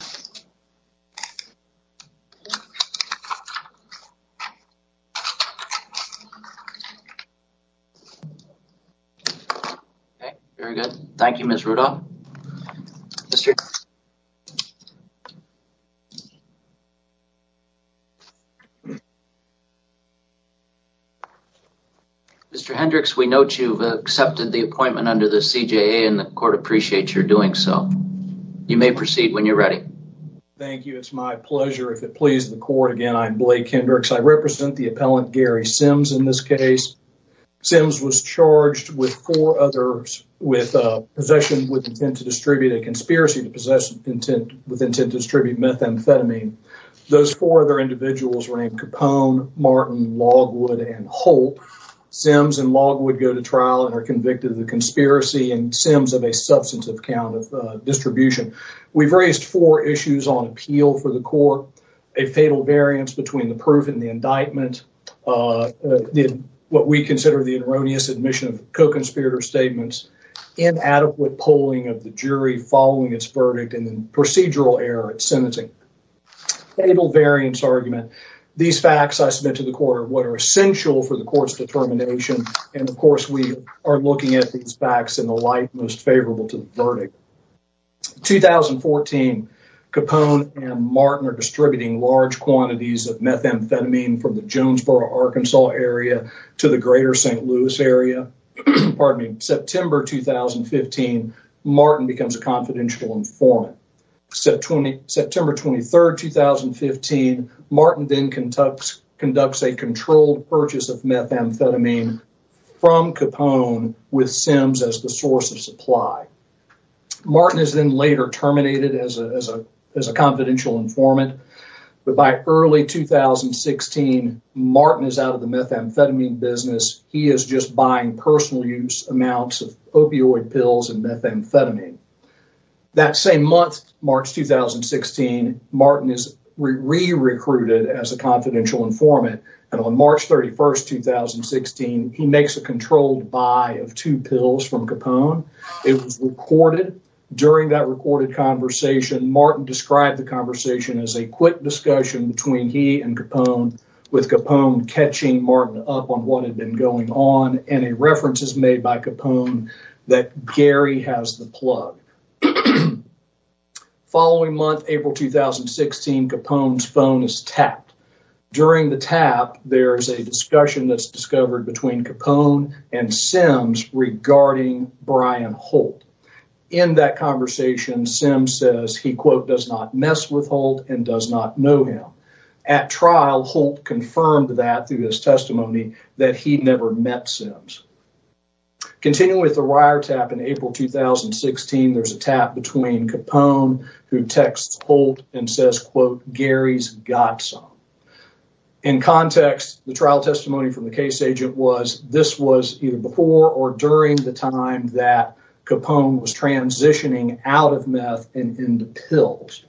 Mr. Hendricks, we note you've accepted the appointment under the CJA and the court appreciates your doing so. You may proceed when you're ready. Thank you. It's my pleasure. If it pleases the court again, I'm Blake Hendricks. I represent the appellant Gary Sims in this case. Sims was charged with four others with possession with intent to distribute a conspiracy to possess intent with intent to distribute methamphetamine. Those four other individuals were named Capone, Martin, Logwood, and Holt. Sims and Logwood go to trial and are convicted of the conspiracy and Sims of a substantive count of distribution. We've raised four issues on appeal for the court, a fatal variance between the proof and the indictment, what we consider the erroneous admission of co-conspirator statements, inadequate polling of the jury following its verdict, and then procedural error at sentencing. Fatal variance argument. These facts I submit to the court are what are essential for the court's determination and of course we are looking at these facts in the light most favorable to the verdict. 2014, Capone and Martin are distributing large quantities of methamphetamine from the Jonesboro, Arkansas area to the greater St. Louis area. September 2015, Martin becomes a confidential informant. September 23rd, 2015, Martin then conducts a controlled purchase of from Capone with Sims as the source of supply. Martin is then later terminated as a confidential informant, but by early 2016, Martin is out of the methamphetamine business. He is just buying personal use amounts of opioid pills and methamphetamine. That same month, March 2016, Martin is re-recruited as a confidential informant and on March 31st, 2016, he makes a controlled buy of two pills from Capone. It was recorded during that recorded conversation. Martin described the conversation as a quick discussion between he and Capone with Capone catching Martin up on what had been going on and a reference is made by Capone that Gary has the plug. The following month, April 2016, Capone's phone is tapped. During the tap, there is a discussion that's discovered between Capone and Sims regarding Brian Holt. In that conversation, Sims says he, quote, does not mess with Holt and does not know him. At trial, Holt confirmed that through his testimony that he never met Sims. Continuing with the wiretap in April 2016, there's a tap between Capone who texts Holt and says, quote, Gary's got some. In context, the trial testimony from the case agent was this was either before or during the time that Capone was transitioning out of meth and into pills.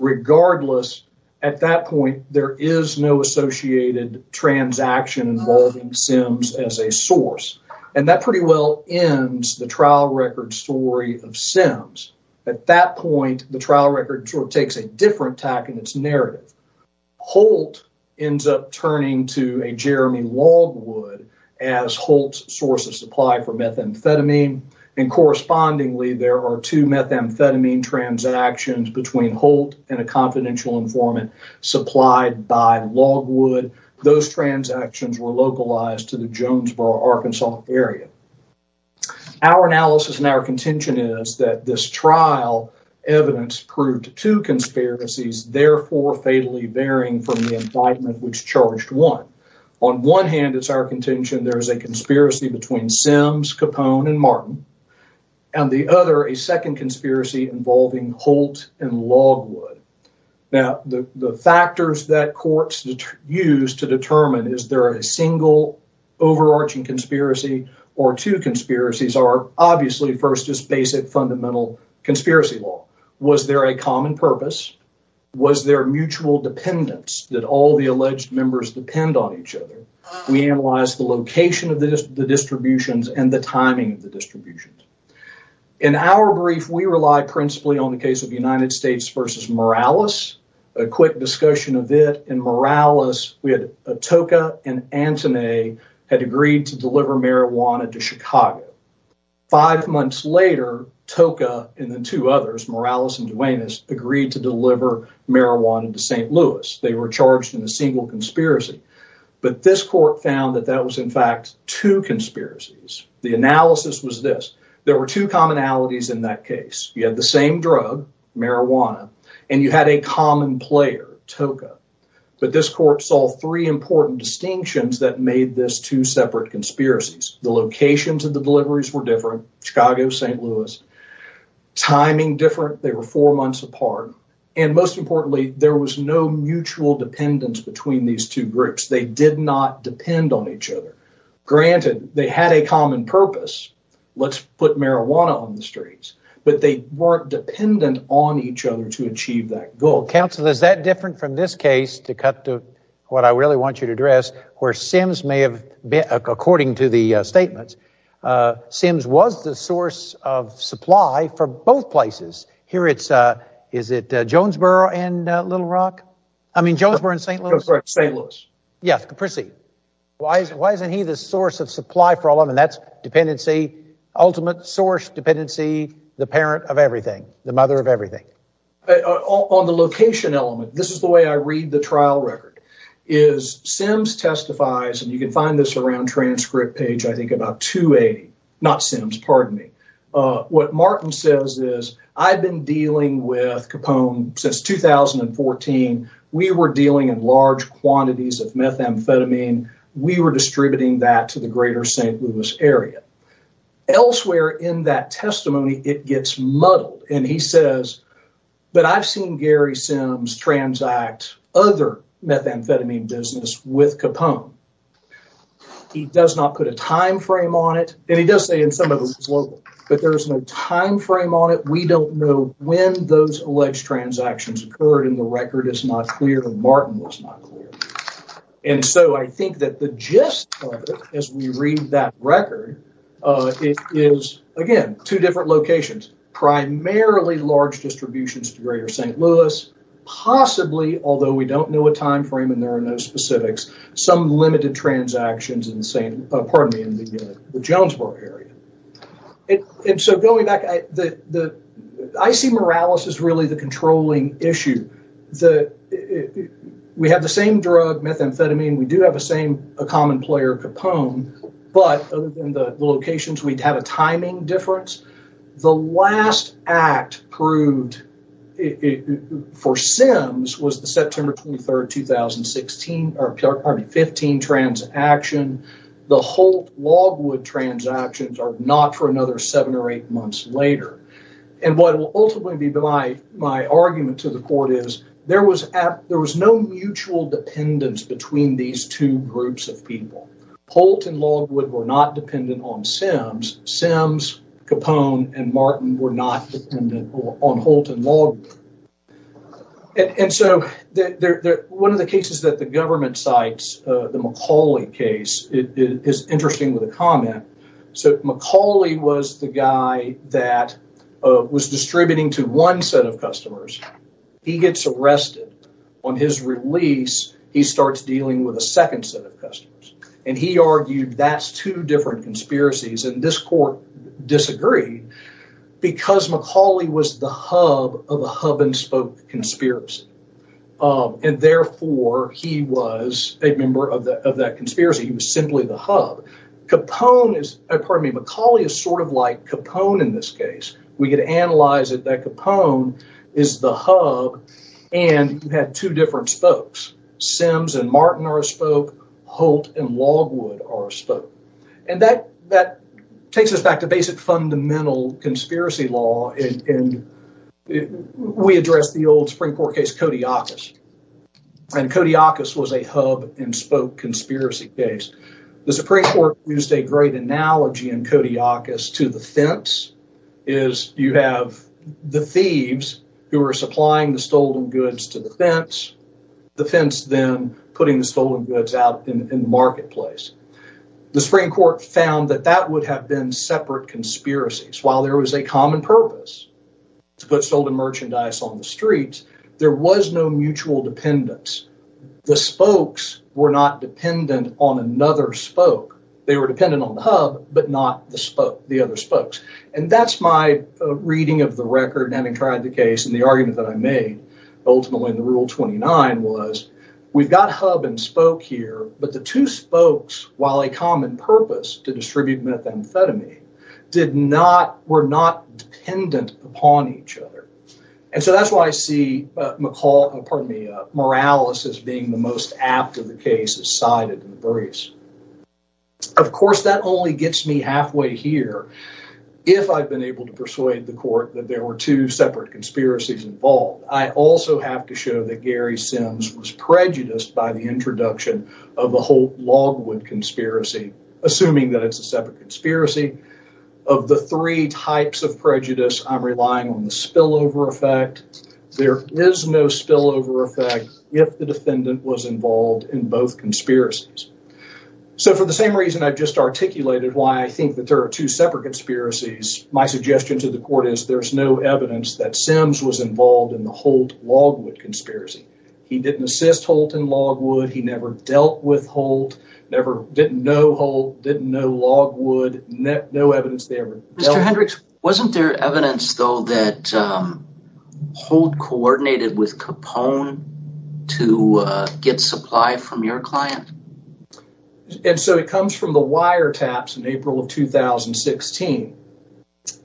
Regardless, at that point, there is no associated transaction involving Sims as a source and that pretty well ends the trial record story of Sims. At that point, the trial record sort of takes a different tack in its narrative. Holt ends up turning to a Jeremy Logwood as Holt's source of supply for methamphetamine and correspondingly, there are two methamphetamine transactions between Holt and a confidential informant supplied by Logwood. Those transactions were localized to the Jonesboro, Arkansas area. Our analysis and our contention is that this trial evidence proved two conspiracies, therefore fatally varying from the indictment which charged one. On one hand, it's our contention there is a conspiracy between Sims, Capone, and Martin, and the other, a second conspiracy involving Holt and Logwood. Now, the factors that courts use to determine is there a single overarching conspiracy or two conspiracies are obviously first is basic fundamental conspiracy law. Was there a common purpose? Was there mutual dependence that all the alleged members depend on each other? We analyze the location of the distributions and the timing of In our brief, we rely principally on the case of United States v. Morales. A quick discussion of it in Morales, we had Tocca and Antone had agreed to deliver marijuana to Chicago. Five months later, Tocca and the two others, Morales and Duenas, agreed to deliver marijuana to St. Louis. They were charged in a single conspiracy, but this court found that that was in fact two conspiracies. The analysis was this. There were two commonalities in that case. You had the same drug, marijuana, and you had a common player, Tocca, but this court saw three important distinctions that made this two separate conspiracies. The locations of the deliveries were different, Chicago, St. Louis. Timing different, they were four months apart, and most importantly, there was no mutual dependence between these two groups. They did not depend on each other. Granted, they had a common purpose, let's put marijuana on the streets, but they weren't dependent on each other to achieve that goal. Counsel, is that different from this case, to cut to what I really want you to address, where Sims may have, according to the statements, Sims was the source of supply for both places. Here it's, is it Jonesboro and Little Rock? I mean, Jonesboro and St. Louis? St. Louis. Yes, proceed. Why isn't he the source of supply for all of them? And that's dependency, ultimate source, dependency, the parent of everything, the mother of everything. On the location element, this is the way I read the trial record, is Sims testifies, and you can find this around transcript page, I think about 280, not Sims, pardon me. What Martin says is, I've been dealing with Capone since 2014. We were dealing in large quantities of methamphetamine. We were distributing that to the greater St. Louis area. Elsewhere in that testimony, it gets muddled, and he says, but I've seen Gary Sims transact other methamphetamine business with Capone. He does not put a time frame on it, and he does say in some of his local, but there's no time frame on it. We don't know when those alleged transactions occurred, and the record is not clear, and Martin was not clear. And so I think that the gist of it, as we read that record, it is, again, two different locations, primarily large distributions to greater St. Louis, possibly, although we don't know a time frame and there are no specifics, some limited transactions in the Jonesboro area. And so going back, I see Morales as really the the, we have the same drug, methamphetamine. We do have the same common player, Capone, but other than the locations, we'd have a timing difference. The last act proved for Sims was the September 23, 2016, pardon me, 15 transaction. The Holt-Logwood transactions are not for another later. And what will ultimately be my argument to the court is there was no mutual dependence between these two groups of people. Holt and Logwood were not dependent on Sims. Sims, Capone, and Martin were not dependent on Holt and Logwood. And so one of the cases that the government cites, the McCauley case, is interesting with a comment. So McCauley was the guy that was distributing to one set of customers. He gets arrested. On his release, he starts dealing with a second set of customers. And he argued that's two different conspiracies. And this court disagreed because McCauley was the hub of a hub-and-spoke conspiracy. And therefore, he was a member of that conspiracy. He was simply the hub. McCauley is sort of like Capone in this case. We could analyze it that Capone is the hub and had two different spokes. Sims and Martin are a spoke. Holt and Logwood are a spoke. And we addressed the old Supreme Court case, Kodiakos. And Kodiakos was a hub-and-spoke conspiracy case. The Supreme Court used a great analogy in Kodiakos to the fence, is you have the thieves who are supplying the stolen goods to the fence, the fence then putting the stolen goods out in the marketplace. The Supreme Court found that that would have been conspiracies. While there was a common purpose to put stolen merchandise on the street, there was no mutual dependence. The spokes were not dependent on another spoke. They were dependent on the hub, but not the other spokes. And that's my reading of the record, having tried the case and the argument that I made ultimately in the Rule 29 was, we've got hub-and-spoke here, but the two spokes, while a common purpose to distribute methamphetamine, were not dependent upon each other. And so that's why I see Morales as being the most apt of the cases cited in the briefs. Of course, that only gets me halfway here. If I've been able to persuade the court that there were two separate conspiracies involved, I also have to show that Gary Sims was prejudiced by the introduction of the whole Logwood conspiracy, assuming that it's a separate conspiracy. Of the three types of prejudice, I'm relying on the spillover effect. There is no spillover effect if the defendant was involved in both conspiracies. So for the same reason I've just articulated why I think that there are two separate conspiracies, my suggestion to the court is there's no evidence that Sims was involved in Holt-Logwood conspiracy. He didn't assist Holt in Logwood, he never dealt with Holt, never didn't know Holt, didn't know Logwood, no evidence there. Mr. Hendricks, wasn't there evidence though that Holt coordinated with Capone to get supply from your client? And so it comes from the wiretaps in April of 2016,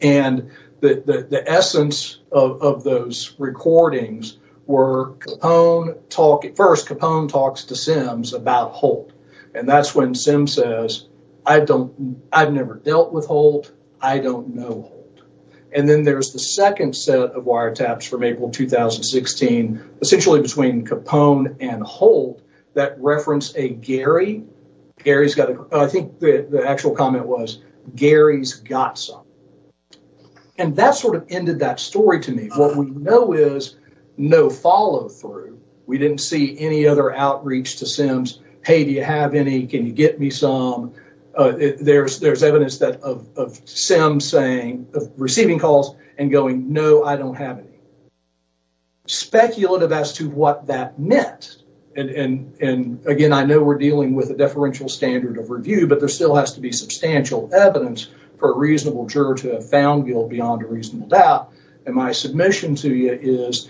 and the essence of those recordings were at first Capone talks to Sims about Holt, and that's when Sims says, I've never dealt with Holt, I don't know Holt. And then there's the second set of wiretaps from April 2016, essentially between Capone and Holt that reference a Gary. I think the actual comment was Gary's got some. And that sort of ended that story to me. What we know is no follow through. We didn't see any other outreach to Sims. Hey, do you have any? Can you get me some? There's evidence of Sims saying, receiving calls and going, no, I don't have any. Speculative as to what that meant. And again, I know we're dealing with a deferential standard of review, but there still has to be substantial evidence for a reasonable juror to have found guilt beyond a reasonable doubt. And my submission to you is,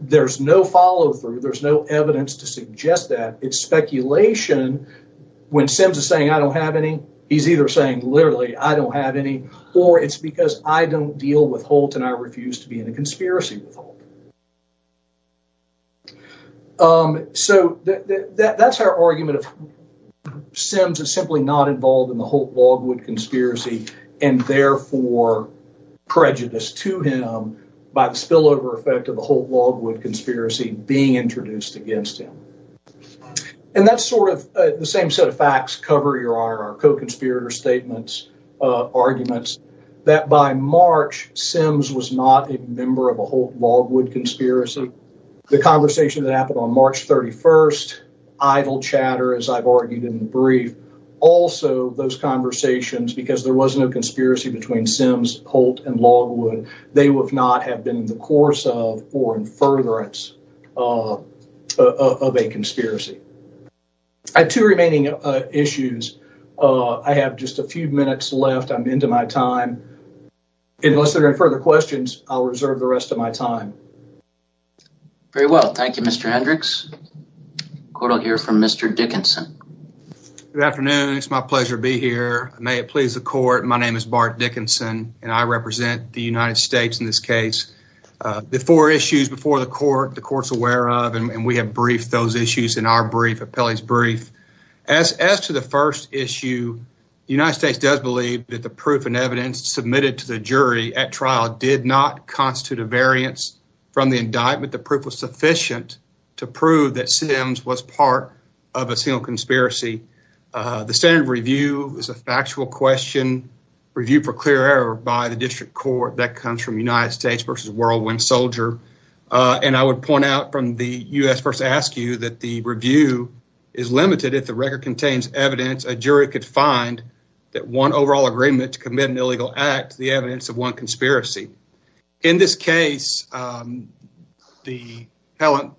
there's no follow through, there's no evidence to suggest that. It's speculation. When Sims is saying, I don't have any, he's either saying, literally, I don't have any, or it's because I don't deal with Holt and I refuse to be in a conspiracy with Holt. So that's our argument of Sims is simply not involved in the Holt-Logwood conspiracy and therefore prejudiced to him by the spillover effect of the Holt-Logwood conspiracy being introduced against him. And that's sort of the same set of facts cover your member of a Holt-Logwood conspiracy. The conversation that happened on March 31st, idle chatter, as I've argued in the brief, also those conversations, because there was no conspiracy between Sims, Holt, and Logwood, they would not have been in the course of or in furtherance of a conspiracy. I have two remaining issues. I have just a few minutes left. I'm into my time. Unless there are further questions, I'll reserve the rest of my time. Very well. Thank you, Mr. Hendricks. The court will hear from Mr. Dickinson. Good afternoon. It's my pleasure to be here. May it please the court. My name is Bart Dickinson and I represent the United States in this case. The four issues before the court, the court's aware of, and we have briefed those issues in our brief, appellee's brief. As to the first issue, the United States does believe that the proof and evidence submitted to the jury at trial did not constitute a variance from the indictment. The proof was sufficient to prove that Sims was part of a single conspiracy. The standard review is a factual question reviewed for clear error by the district court that comes from United States versus Whirlwind Soldier. And I would point out from the U.S. first to ask you that the review is limited. If the record contains evidence, a jury could find that one overall agreement to commit an illegal act, the evidence of one conspiracy. In this case, the appellant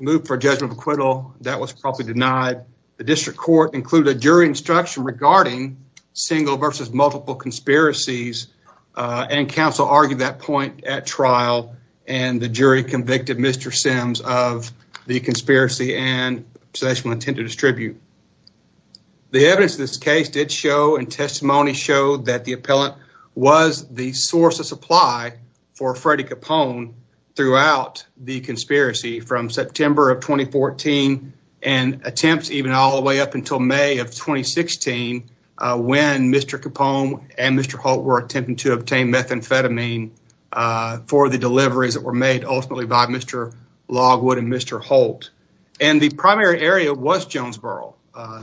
moved for a judgment of acquittal. That was probably denied. The district court included a jury instruction regarding single versus multiple conspiracies and counsel argued that point at trial and the jury convicted Mr. Sims of the conspiracy and intentional intent to distribute. The evidence in this case did show and testimony showed that the appellant was the source of supply for Freddie Capone throughout the conspiracy from September of 2014 and attempts even all the way up until May of 2016 when Mr. Capone and Mr. Holt were attempting to obtain methamphetamine for the deliveries that were made ultimately by Mr. Logwood and Mr. Holt. And the primary area was Jonesboro.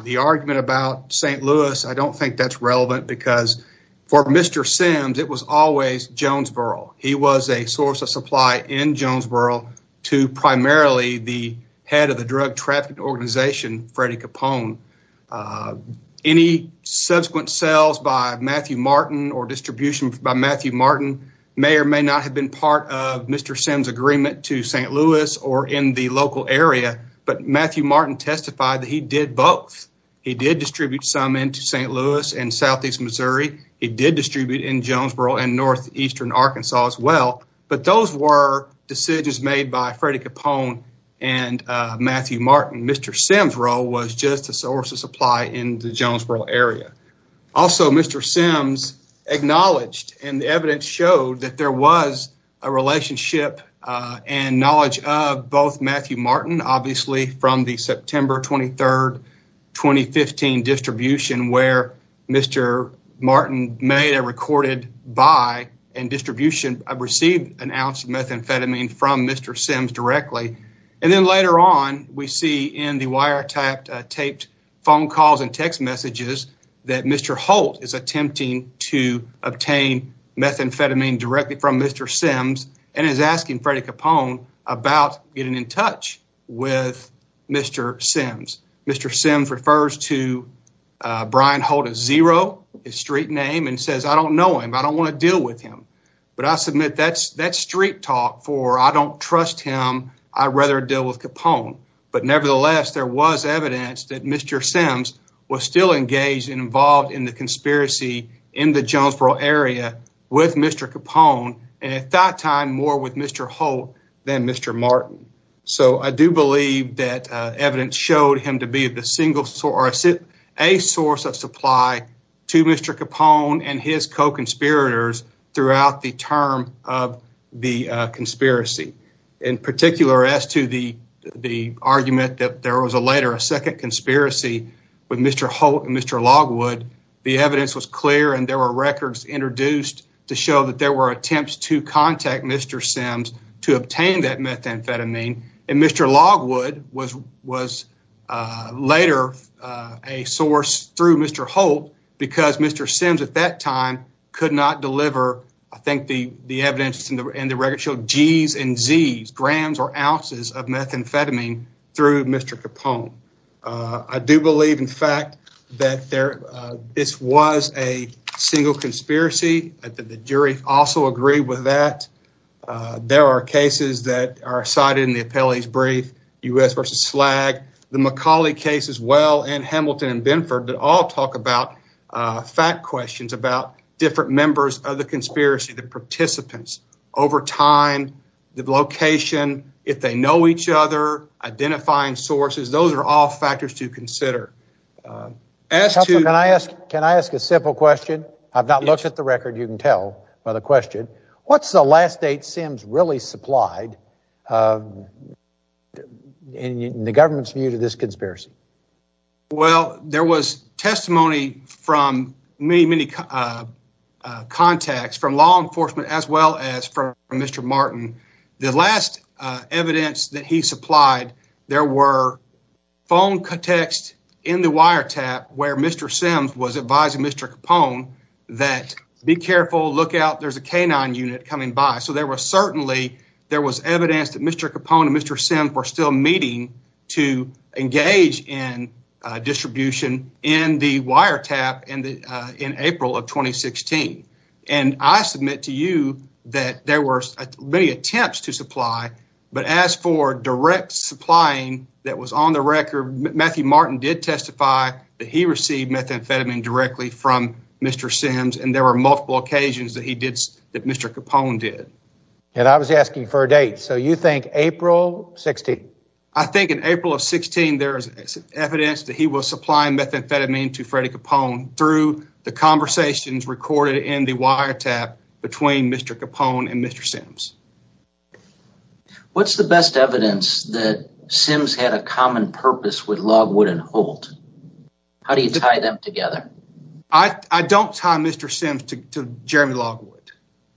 The argument about St. Louis, I don't think that's relevant because for Mr. Sims, it was always Jonesboro. He was a source of supply in Jonesboro to primarily the head of the drug trafficking organization, Freddie Capone. Any subsequent sales by Matthew Martin or distribution by Matthew Martin may or may not have been part of Mr. Sims' agreement to St. Louis or in the local area, but Matthew Martin testified that he did both. He did distribute some into St. Louis and southeast Missouri. He did distribute in Jonesboro and northeastern Arkansas as well, but those were decisions made by Freddie Capone and Matthew Martin. Mr. Sims' role was just a source of supply in the Jonesboro area. Also, Mr. Sims acknowledged and the evidence showed that there was a relationship and knowledge of both Matthew Martin, obviously from the September 23rd distribution where Mr. Martin made a recorded buy and distribution of received an ounce of methamphetamine from Mr. Sims directly. And then later on, we see in the wiretapped taped phone calls and text messages that Mr. Holt is attempting to obtain methamphetamine directly from Mr. Sims and is asking Freddie Capone about getting in touch with Mr. Sims. Mr. Sims refers to Brian Holt as Zero, his street name, and says, I don't know him. I don't want to deal with him. But I submit that's that street talk for I don't trust him. I'd rather deal with Capone. But nevertheless, there was evidence that Mr. Sims was still engaged and involved in the conspiracy in the Jonesboro area with Mr. Capone and at that time more with Mr. Holt than Mr. Martin. So, I do believe that evidence showed him to be the single source or a source of supply to Mr. Capone and his co-conspirators throughout the term of the conspiracy. In particular, as to the argument that there was a later a second conspiracy with Mr. Holt and Mr. Logwood, the evidence was clear and there were records introduced to show that there were attempts to methamphetamine and Mr. Logwood was later a source through Mr. Holt because Mr. Sims at that time could not deliver, I think the evidence in the record show, Gs and Zs, grams or ounces of methamphetamine through Mr. Capone. I do believe, in fact, that this was a single conspiracy. The jury also agreed with that. There are cases that are cited in the appellee's brief, U.S. versus SLAG, the McCauley case as well, and Hamilton and Binford that all talk about fact questions about different members of the conspiracy, the participants, over time, the location, if they know each other, identifying sources, those are all factors to by the question, what's the last date Sims really supplied in the government's view to this conspiracy? Well, there was testimony from many, many contacts from law enforcement as well as from Mr. Martin. The last evidence that he supplied, there were phone texts in the wiretap where Mr. Sims was advising Mr. Capone that be careful, look out, there's a canine unit coming by. So there was evidence that Mr. Capone and Mr. Sims were still meeting to engage in distribution in the wiretap in April of 2016. And I submit to you that there were many attempts to supply, but as for direct supplying that was on the record, Matthew Martin did testify that he received methamphetamine directly from Mr. Sims, and there were multiple occasions that he did, that Mr. Capone did. And I was asking for a date. So you think April 16? I think in April of 16, there is evidence that he was supplying methamphetamine to Freddie Capone through the conversations recorded in the wiretap between Mr. Capone and Mr. Sims. What's the best evidence that Sims had a common purpose with Logwood and Holt? How do you tie them together? I don't tie Mr. Sims to Jeremy Logwood.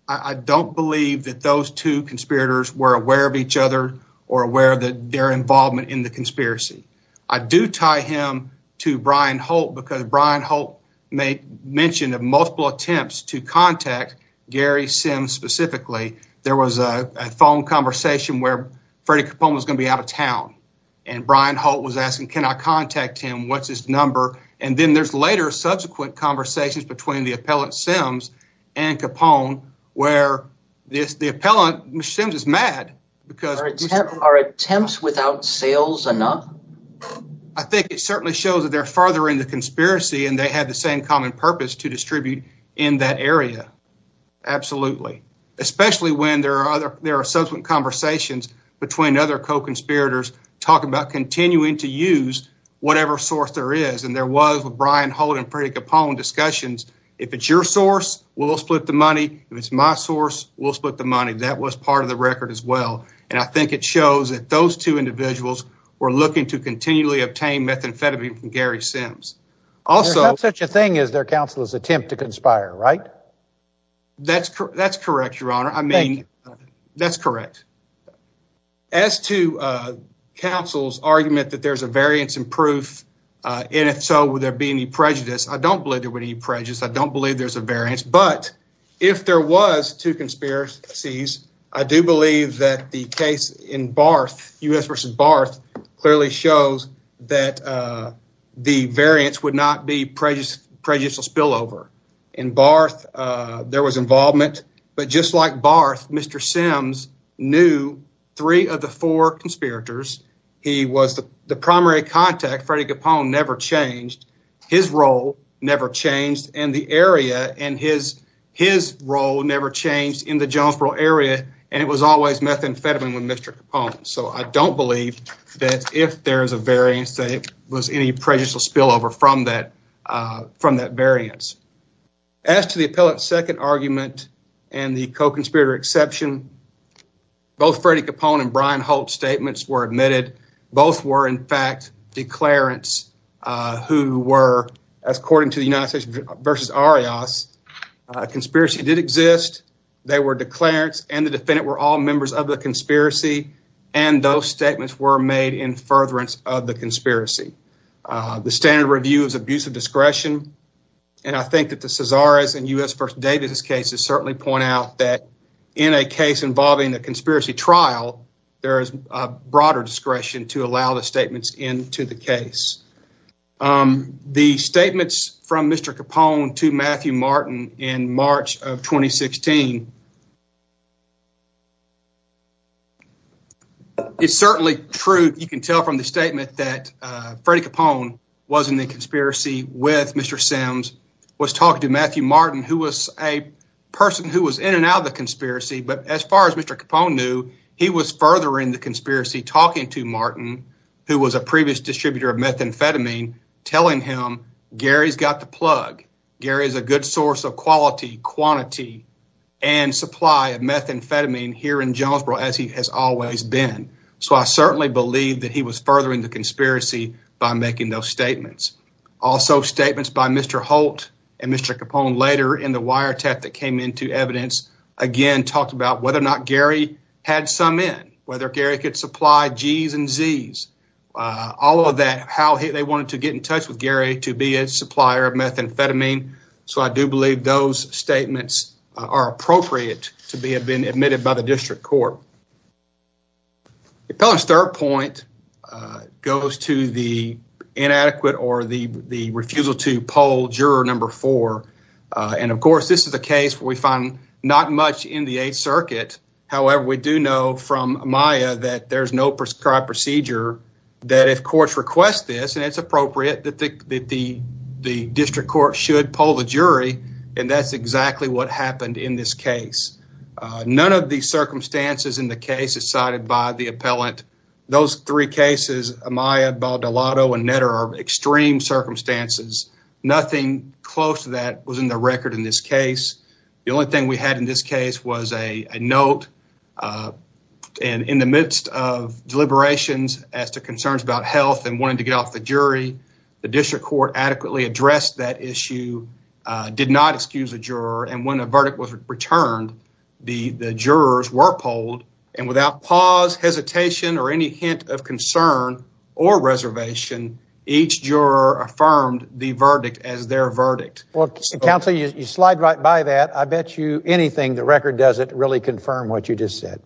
I don't believe that those two conspirators were aware of each other or aware of their involvement in the conspiracy. I do tie him to Brian Holt because Brian Holt mentioned multiple attempts to contact Gary Sims specifically. There was a phone conversation where Freddie Capone was going to be out of town and Brian Holt was asking, can I contact him? What's his number? And then there's later subsequent conversations between the appellant Sims and Capone where the appellant Sims is mad because... Are attempts without sales enough? I think it certainly shows that they're further in the conspiracy and they had the same common purpose to distribute in that area. Absolutely. Especially when there are other, there are subsequent conversations between other co-conspirators talking about continuing to use whatever source there is. And there was a Brian Holt and Freddie Capone discussions. If it's your source, we'll split the money. If it's my source, we'll split the money. That was part of the record as well. And I think it shows that those two individuals were looking to continually obtain methamphetamine from Gary Sims. Also... There's not such a thing as their counsel's attempt to conspire, right? That's correct, your honor. I mean, that's correct. As to counsel's argument that there's a variance in proof, and if so, would there be any prejudice? I don't believe there would be any to conspiracies. I do believe that the case in Barth, U.S. versus Barth, clearly shows that the variance would not be prejudicial spillover. In Barth, there was involvement, but just like Barth, Mr. Sims knew three of the four conspirators. He was the primary contact. Freddie Capone never changed. His role never changed in the area, and his role never changed in the Jonesboro area, and it was always methamphetamine with Mr. Capone. So, I don't believe that if there's a variance, that it was any prejudicial spillover from that variance. As to the appellate's second argument and the co-conspirator exception, both Freddie Capone and Brian Holt's statements were admitted. Both were, in fact, declarants who were, as according to the United States versus Arias, conspiracy did exist. They were declarants, and the defendant were all members of the conspiracy, and those statements were made in furtherance of the conspiracy. The standard review is abusive discretion, and I think that the Cesare's and U.S. versus Davis's cases certainly point out that in a case involving a conspiracy trial, there is a broader discretion to allow the statements into the case. The statements from Mr. Capone to Matthew Martin in March of 2016, it's certainly true. You can tell from the statement that Freddie Capone was in the conspiracy with Mr. Sims, was talking to Matthew Martin, who was a person who was in and out of conspiracy, but as far as Mr. Capone knew, he was furthering the conspiracy talking to Martin, who was a previous distributor of methamphetamine, telling him Gary's got the plug. Gary's a good source of quality, quantity, and supply of methamphetamine here in Jonesboro, as he has always been. So, I certainly believe that he was furthering the conspiracy by making those statements. Also, statements by Mr. Holt and Mr. Capone later in the wiretap that came into evidence again, talked about whether or not Gary had some in, whether Gary could supply G's and Z's, all of that, how they wanted to get in touch with Gary to be a supplier of methamphetamine. So, I do believe those statements are appropriate to be have been admitted by the district court. Appellant's third point goes to the inadequate or the refusal to poll juror number four, and of course, this is a case where we find not much in the Eighth Circuit. However, we do know from Amaya that there's no prescribed procedure that if courts request this, and it's appropriate that the district court should poll the jury, and that's exactly what happened in this case. None of the circumstances in the case is cited by the appellant. Those three cases, Amaya, was in the record in this case. The only thing we had in this case was a note, and in the midst of deliberations as to concerns about health and wanting to get off the jury, the district court adequately addressed that issue, did not excuse a juror, and when a verdict was returned, the jurors were polled, and without pause, hesitation, or any hint of concern or reservation, each juror affirmed the verdict as their verdict. Well, counsel, you slide right by that. I bet you anything the record doesn't really confirm what you just said.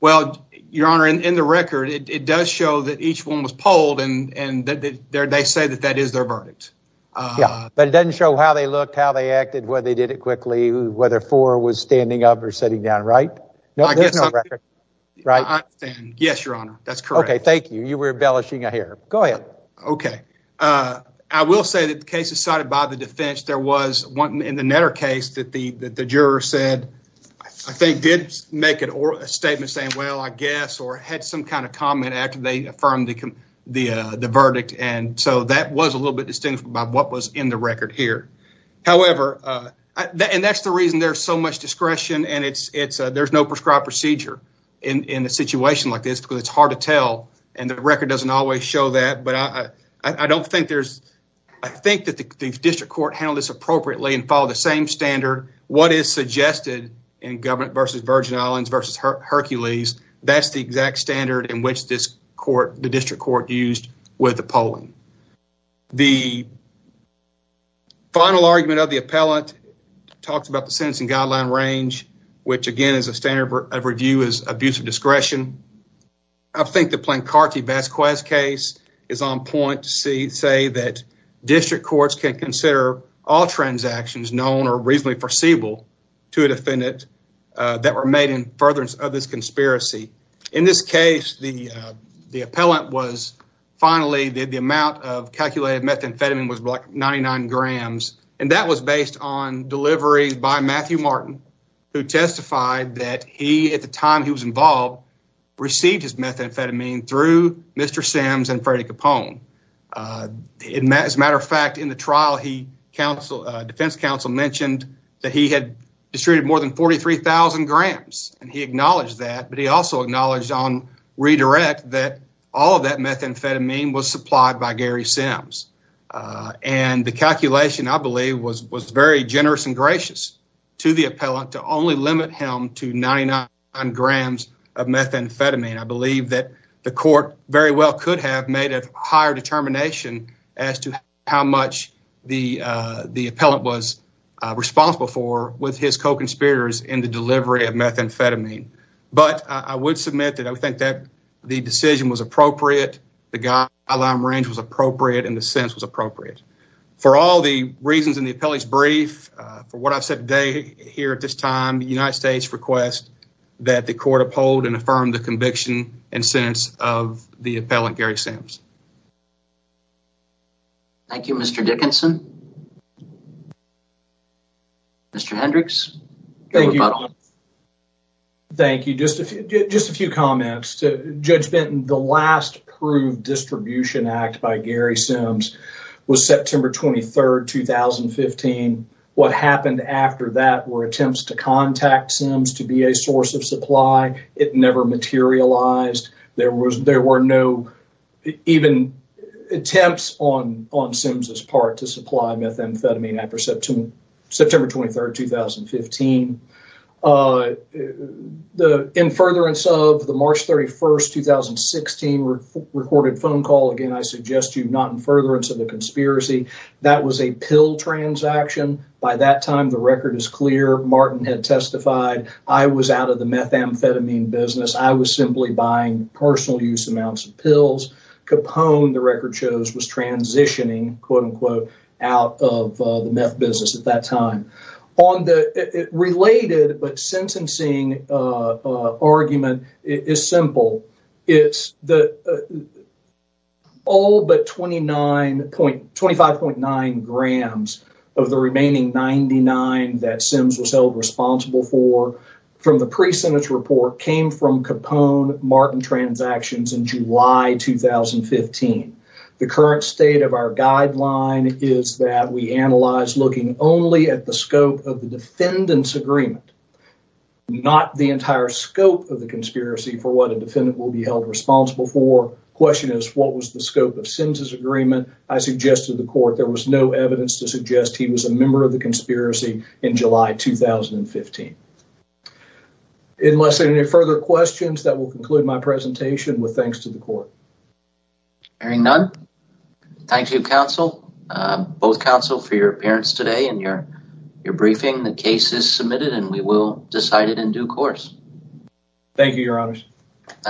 Well, your honor, in the record, it does show that each one was polled, and they say that that is their verdict. Yeah, but it doesn't show how they looked, how they acted, whether they did it quickly, whether four was standing up or sitting down, right? No, there's no record, right? Yes, your honor, that's correct. Okay, thank you. You were embellishing it here. Go ahead. Okay. I will say that the cases cited by the defense, there was one in the Netter case that the juror said, I think, did make a statement saying, well, I guess, or had some kind of comment after they affirmed the verdict, and so that was a little bit distinguished by what was in the record here. However, and that's the reason there's so much discretion, and there's no prescribed procedure in a situation like this, because it's hard to tell, and the record doesn't always show that, but I don't think there's, I think that the district court handled this appropriately and followed the same standard. What is suggested in government versus Virgin Islands versus Hercules, that's the exact standard in which this court, the district court used with the polling. The final argument of the appellant talks about the sentencing guideline range, which again, is a standard of review, abuse of discretion. I think the Plancarti-Vasquez case is on point to say that district courts can consider all transactions known or reasonably foreseeable to a defendant that were made in furtherance of this conspiracy. In this case, the appellant was finally, the amount of calculated methamphetamine was like 99 grams, and that was based on delivery by Matthew Martin, who testified that he, at the time he was involved, received his methamphetamine through Mr. Sims and Freddie Capone. As a matter of fact, in the trial, the defense counsel mentioned that he had distributed more than 43,000 grams, and he acknowledged that, but he also acknowledged on redirect that all of that methamphetamine was supplied by Gary Sims, and the calculation, I believe, was very generous and gracious to the appellant to only limit him to 99 grams of methamphetamine. I believe that the court very well could have made a higher determination as to how much the appellant was responsible for with his co-conspirators in the delivery of methamphetamine, but I would submit that I think that the decision was appropriate, the guideline range was appropriate, and the brief, for what I've said today here at this time, the United States requests that the court uphold and affirm the conviction and sentence of the appellant Gary Sims. Thank you, Mr. Dickinson. Mr. Hendricks. Thank you. Thank you. Just a few comments. Judge Benton, the last approved distribution act by Gary Sims was September 23rd, 2015. What happened after that were attempts to contact Sims to be a source of supply. It never materialized. There were no even attempts on Sims' part to supply methamphetamine after September 23rd, 2015. In furtherance of the March 31st, 2016 recorded phone call, again, I suggest you not in furtherance of the conspiracy, that was a pill transaction. By that time, the record is clear. Martin had testified. I was out of the methamphetamine business. I was simply buying personal use amounts of pills. Capone, the record shows, was transitioning, quote-unquote, out of the business at that time. Related but sentencing argument is simple. It's all but 25.9 grams of the remaining 99 that Sims was held responsible for from the pre-sentence report came from Capone Martin transactions in July, 2015. The current state of our guideline is that we analyze looking only at the scope of the defendant's agreement, not the entire scope of the conspiracy for what a defendant will be held responsible for. Question is, what was the scope of Sims' agreement? I suggested to the court there was no evidence to suggest he was a member of the conspiracy in July, 2015. Unless there are any further questions, that will conclude my presentation with thanks to the court. Hearing none, thank you, counsel, both counsel for your appearance today and your briefing. The case is submitted and we will decide it in due course. Thank you, your honors.